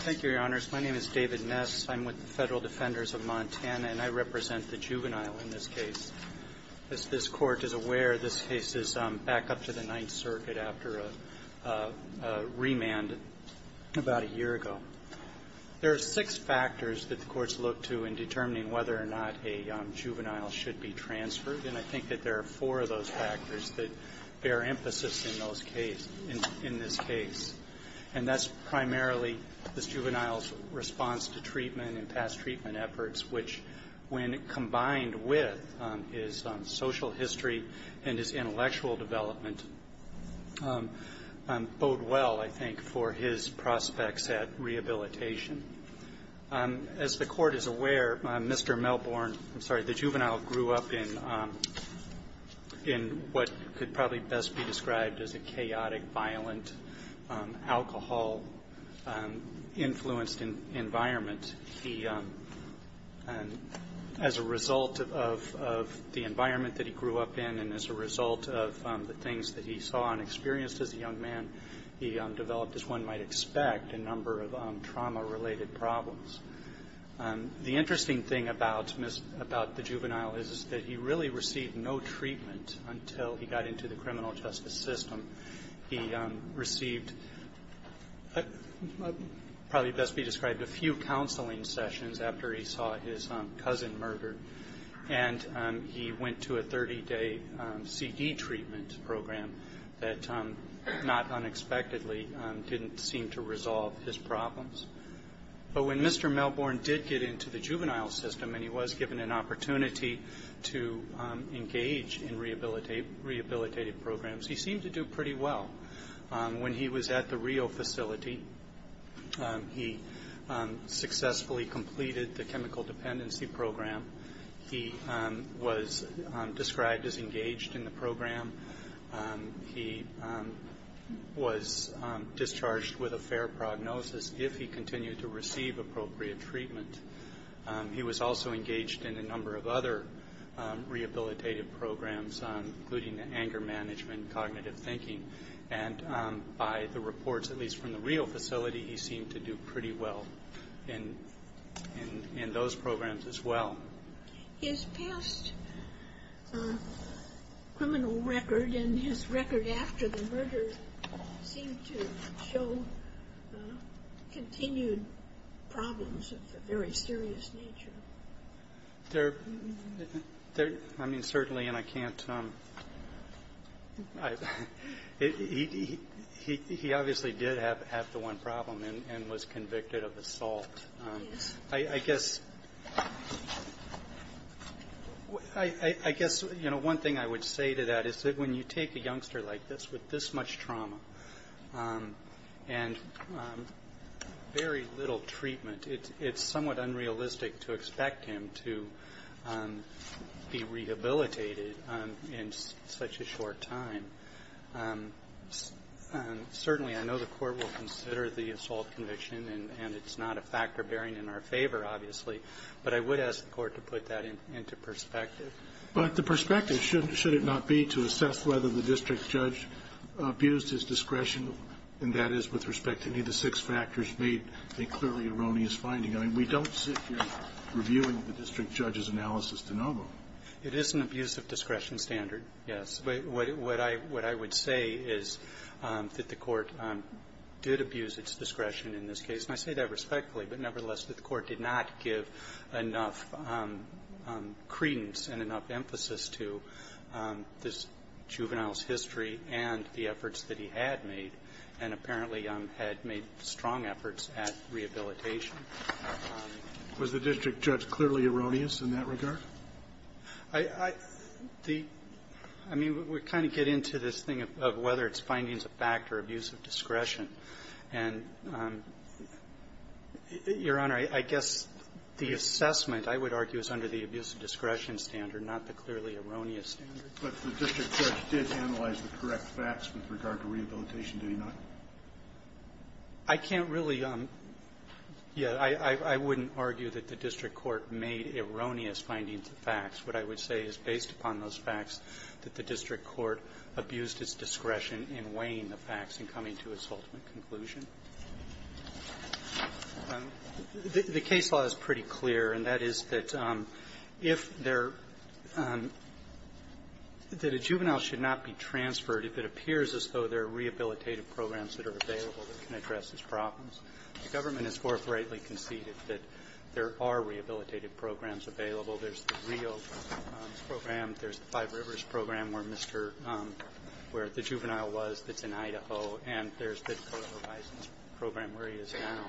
Thank you, Your Honors. My name is David Ness. I'm with the Federal Defenders of Montana, and I represent the juvenile in this case. As this Court is aware, this case is back up to the Ninth Circuit after a remand about a year ago. There are six factors that the courts look to in determining whether or not a juvenile should be transferred, and I think that there are four of those factors that bear emphasis in those case – in this case. And that's primarily this juvenile's response to treatment and past treatment efforts, which, when combined with his social history and his intellectual development, bode well, I think, for his prospects at rehabilitation. As the Court is aware, Mr. Melbourne – I'm sorry – the juvenile grew up in what could probably best be described as a chaotic, violent, alcohol-influenced environment. He – as a result of the environment that he grew up in and as a result of the things that he saw and experienced as a young man, he developed, as one might expect, a number of trauma-related problems. The interesting thing about the juvenile is that he really received no treatment until he got into the criminal justice system. He received probably best to be described a few counseling sessions after he saw his cousin murdered, and he went to a 30-day CD treatment program that not unexpectedly didn't seem to resolve his problems. But when Mr. Melbourne did get into the juvenile system and he was given an opportunity to engage in rehabilitative programs, he seemed to do pretty well. When he was at the Rio facility, he successfully completed the chemical dependency program. He was discharged with a fair prognosis if he continued to receive appropriate treatment. He was also engaged in a number of other rehabilitative programs, including the anger management, cognitive thinking. And by the reports, at least from the Rio facility, he seemed to do pretty well in those programs as well. His past criminal record and his record after the murder seem to show continued problems of a very serious nature. There, I mean, certainly, and I can't, he obviously did have the one problem and was convicted of assault. I guess, you know, one thing I would say to that is that when you take a youngster like this with this much trauma and very little treatment, it's somewhat unrealistic to expect him to be rehabilitated in such a And it's not a factor bearing in our favor, obviously. But I would ask the Court to put that into perspective. But the perspective, should it not be, to assess whether the district judge abused his discretion, and that is with respect to any of the six factors, made a clearly erroneous finding. I mean, we don't sit here reviewing the district judge's analysis de novo. It is an abuse of discretion standard, yes. But what I would say is that the Court did abuse its discretion in this case, and I say that respectfully, but nevertheless, the Court did not give enough credence and enough emphasis to this juvenile's history and the efforts that he had made, and apparently had made strong efforts at rehabilitation. Was the district judge clearly erroneous in that regard? I mean, we kind of get into this thing of whether it's findings of fact or abuse of discretion. And, Your Honor, I guess the assessment, I would argue, is under the abuse of discretion standard, not the clearly erroneous standard. But the district judge did analyze the correct facts with regard to rehabilitation, do you not? I can't really. I wouldn't argue that the district court made erroneous findings of facts. What I would say is, based upon those facts, that the district court abused its discretion in weighing the facts and coming to its ultimate conclusion. The case law is pretty clear, and that is that if there – that a juvenile should not be transferred if it appears as though there are rehabilitative programs that are available that can address his problems. The government has forthrightly conceded that there are rehabilitative programs available. There's the Rio program. There's the Five Rivers program where Mr. – where the juvenile was that's in Idaho. And there's the Dakota Horizons program where he is now.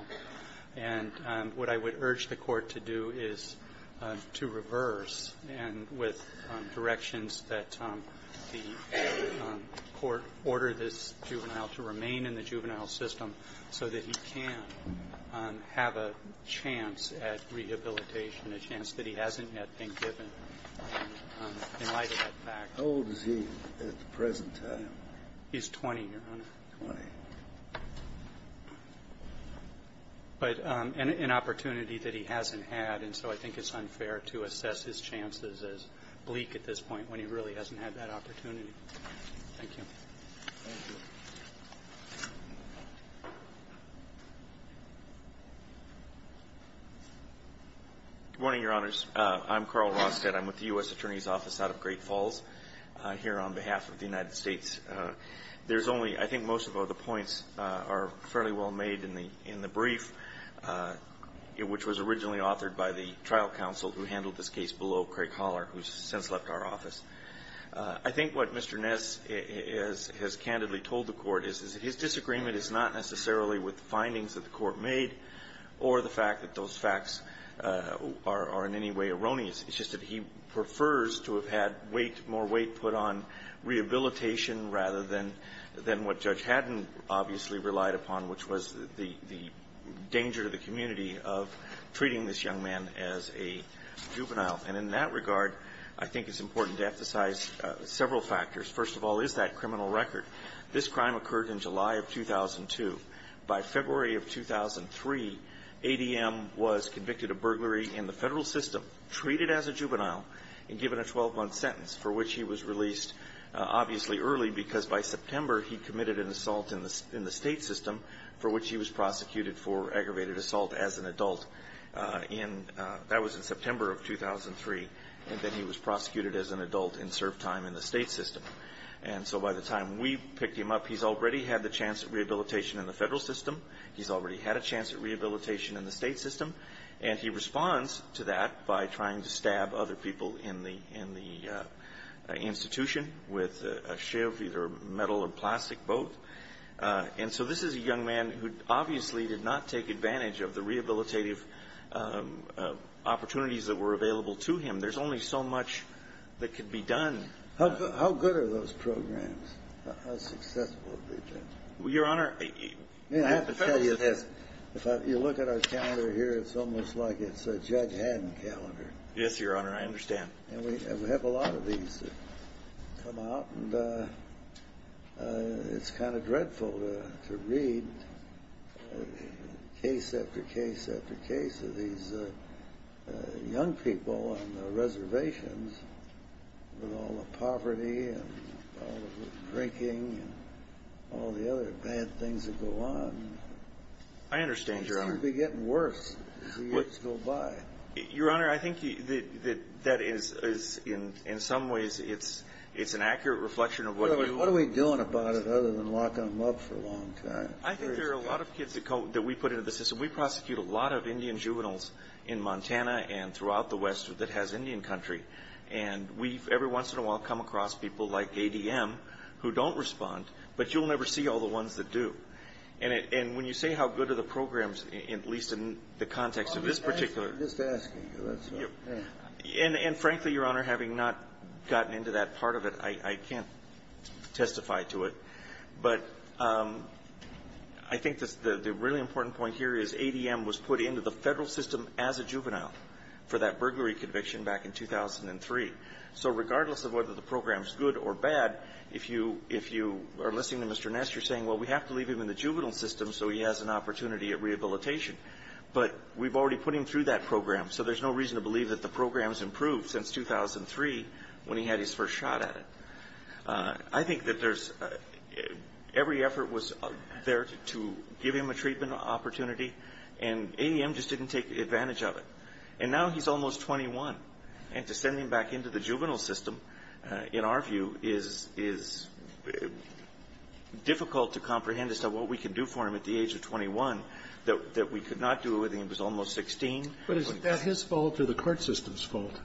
And what I would urge the court to do is to reverse, and with directions that the he can have a chance at rehabilitation, a chance that he hasn't yet been given in light of that fact. How old is he at the present time? He's 20, Your Honor. Twenty. But an opportunity that he hasn't had, and so I think it's unfair to assess his chances as bleak at this point when he really hasn't had that opportunity. Thank you. Thank you. Good morning, Your Honors. I'm Carl Rostead. I'm with the U.S. Attorney's Office out of Great Falls here on behalf of the United States. There's only – I think most of the points are fairly well made in the brief, which was originally authored by the trial counsel who handled this case below, Craig Holler, who's since left our office. I think what Mr. Ness has candidly told the court is that his disagreement is not necessarily with the findings that the court made or the fact that those facts are in any way erroneous. It's just that he prefers to have had weight, more weight put on rehabilitation rather than what Judge Haddon obviously relied upon, which was the danger to the community of treating this young man as a juvenile. And in that regard, I think it's important to emphasize several factors. First of all, is that criminal record? This crime occurred in July of 2002. By February of 2003, ADM was convicted of burglary in the federal system, treated as a juvenile, and given a 12-month sentence for which he was released obviously early because by September he committed an assault in the state system for which that was in September of 2003. And then he was prosecuted as an adult and served time in the state system. And so by the time we picked him up, he's already had the chance of rehabilitation in the federal system. He's already had a chance of rehabilitation in the state system. And he responds to that by trying to stab other people in the institution with a shiv, either metal or plastic, both. And so this is a young man who obviously did not take advantage of the rehabilitative opportunities that were available to him. There's only so much that could be done. How good are those programs? How successful are they, Judge? Well, Your Honor, I have to tell you this. If you look at our calendar here, it's almost like it's a Judge Haddon calendar. Yes, Your Honor. I understand. And we have a lot of these that come out. And it's kind of dreadful to read case after case after case of these young people on the reservations with all the poverty and all the drinking and all the other bad things that go on. I understand, Your Honor. Things are going to be getting worse as the years go by. Your Honor, I think that is, in some ways, it's an accurate reflection of what you What are we doing about it other than locking them up for a long time? I think there are a lot of kids that we put into the system. We prosecute a lot of Indian juveniles in Montana and throughout the West that has Indian country. And we've every once in a while come across people like ADM who don't respond, but you'll never see all the ones that do. And when you say how good are the programs, at least in the context of this particular I'm just asking you. And frankly, Your Honor, having not gotten into that part of it, I can't testify to it. But I think the really important point here is ADM was put into the Federal system as a juvenile for that burglary conviction back in 2003. So regardless of whether the program is good or bad, if you are listening to Mr. Ness, you're saying, well, we have to leave him in the juvenile system so he has an opportunity at rehabilitation. But we've already put him through that program, so there's no reason to believe that the program's improved since 2003 when he had his first shot at it. I think that there's every effort was there to give him a treatment opportunity, and ADM just didn't take advantage of it. And now he's almost 21, and to send him back into the juvenile system, in our view, is difficult to comprehend as to what we can do for him at the age of 21, that we could not do it when he was almost 16. But is that his fault or the court system's fault?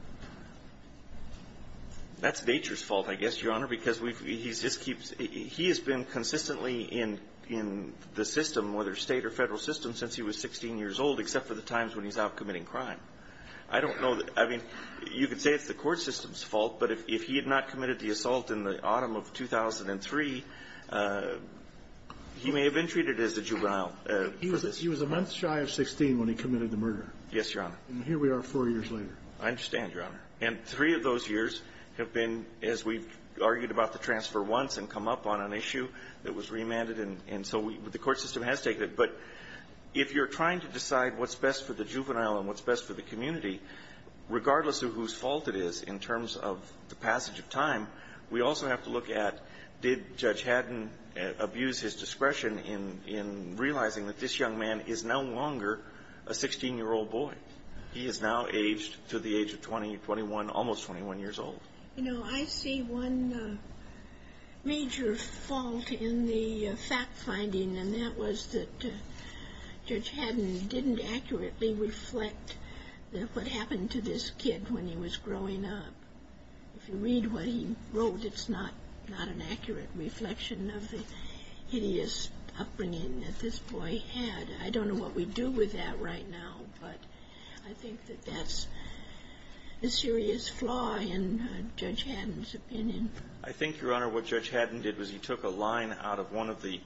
That's nature's fault, I guess, Your Honor, because he's just keeps he has been consistently in the system, whether State or Federal system, since he was 16 years old, except for the times when he's out committing crime. I don't know. I mean, you could say it's the court system's fault, but if he had not committed the assault in the autumn of 2003, he may have been treated as a juvenile. He was a month shy of 16 when he committed the murder. Yes, Your Honor. And here we are four years later. I understand, Your Honor. And three of those years have been, as we've argued about the transfer once and come up on an issue that was remanded, and so the court system has taken it. But if you're trying to decide what's best for the juvenile and what's best for the passage of time, we also have to look at did Judge Haddon abuse his discretion in realizing that this young man is no longer a 16-year-old boy. He is now aged to the age of 20, 21, almost 21 years old. You know, I see one major fault in the fact-finding, and that was that Judge Haddon didn't accurately reflect what happened to this kid when he was growing up. If you read what he wrote, it's not an accurate reflection of the hideous upbringing that this boy had. I don't know what we do with that right now, but I think that that's a serious flaw in Judge Haddon's opinion. I think, Your Honor, what Judge Haddon did was he took a line out of one of the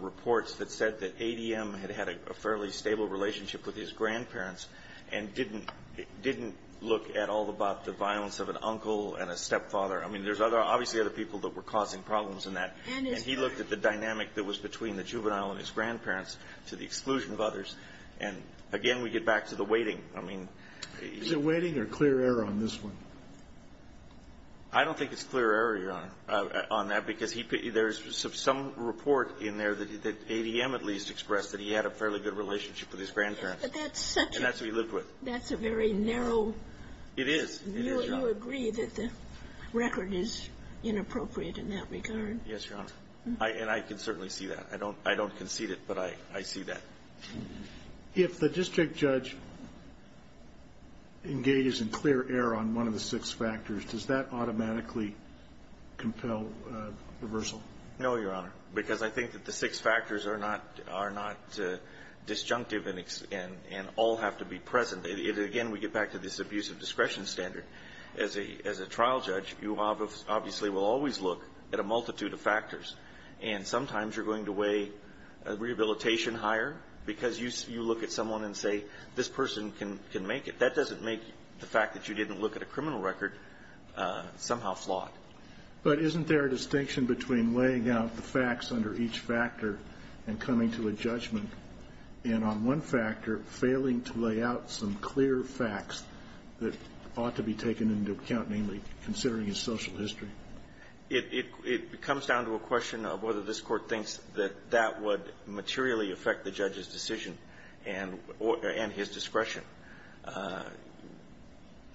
reports that said that ADM had had a fairly stable relationship with his grandparents and didn't look at all about the violence of an uncle and a stepfather. I mean, there's obviously other people that were causing problems in that. And he looked at the dynamic that was between the juvenile and his grandparents to the exclusion of others. And, again, we get back to the weighting. I mean, he's the weighting or clear error on this one? I don't think it's clear error, Your Honor, on that, because there's some report in there that ADM at least expressed that he had a fairly good relationship with his grandparents. But that's such a... And that's who he lived with. That's a very narrow... It is. You agree that the record is inappropriate in that regard. Yes, Your Honor. And I can certainly see that. I don't concede it, but I see that. If the district judge engages in clear error on one of the six factors, does that automatically compel reversal? No, Your Honor. Because I think that the six factors are not disjunctive and all have to be present. Again, we get back to this abuse of discretion standard. As a trial judge, you obviously will always look at a multitude of factors. And sometimes you're going to weigh rehabilitation higher because you look at someone and say, this person can make it. That doesn't make the fact that you didn't look at a criminal record somehow flawed. But isn't there a distinction between weighing out the facts under each factor and coming to a judgment, and on one factor, failing to lay out some clear facts that ought to be taken into account, namely considering his social history? It comes down to a question of whether this Court thinks that that would materially affect the judge's decision and his discretion.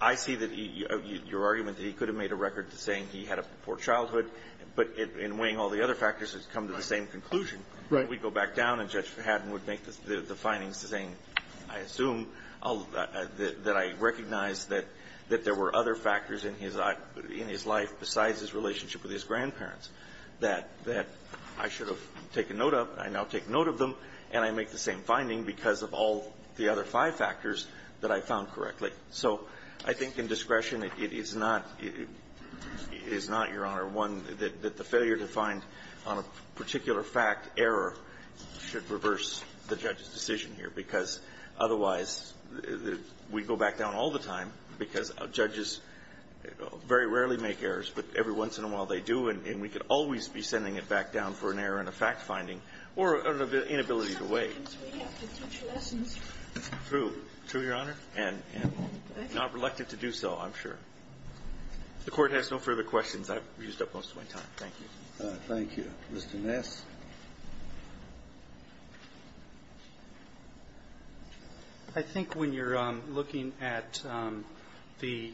I see that your argument that he could have made a record saying he had a poor childhood, but in weighing all the other factors, it's come to the same conclusion. Right. We go back down, and Judge Fahad would make the findings saying, I assume that I recognize that there were other factors in his life besides his relationship with his grandparents that I should have taken note of, and I now take note of them, and I make the same So I think in discretion, it is not, it is not, Your Honor, one that the failure to find on a particular fact error should reverse the judge's decision here, because otherwise, we go back down all the time because judges very rarely make errors, but every once in a while they do, and we could always be sending it back down for True, Your Honor, and not reluctant to do so, I'm sure. If the Court has no further questions, I've used up most of my time. Thank you. Thank you. Mr. Ness. I think when you're looking at the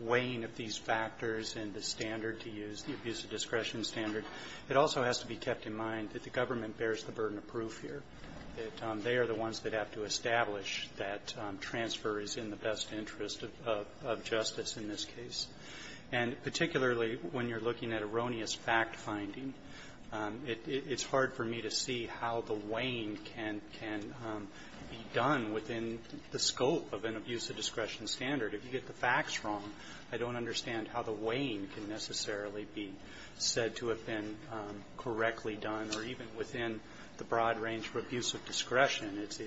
weighing of these factors and the standard to use, the abuse of discretion standard, it also has to be kept in mind that the best interest of justice in this case. And particularly when you're looking at erroneous fact-finding, it's hard for me to see how the weighing can be done within the scope of an abuse of discretion standard. If you get the facts wrong, I don't understand how the weighing can necessarily be said to have been correctly done, or even within the broad range for abuse of discretion. It's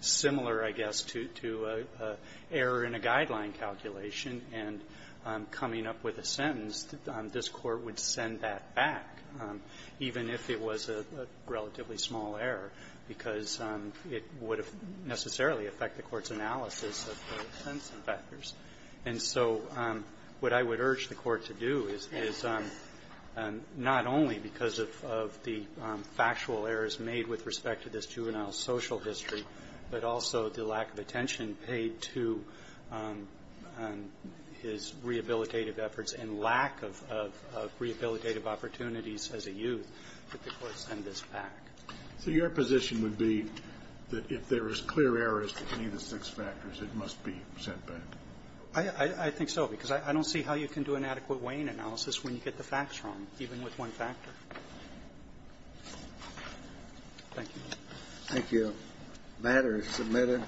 similar, I guess, to an error in a guideline calculation, and coming up with a sentence, this Court would send that back, even if it was a relatively small error, because it would have necessarily affected the Court's analysis of the sentencing factors. And so what I would urge the Court to do is not only because of the fact that there are factual errors made with respect to this juvenile social history, but also the lack of attention paid to his rehabilitative efforts and lack of rehabilitative opportunities as a youth that the Court send this back. So your position would be that if there is clear errors to any of the six factors, it must be sent back? I think so, because I don't see how you can do an adequate weighing analysis when you get the facts wrong, even with one factor. Thank you. Thank you. The matter is submitted.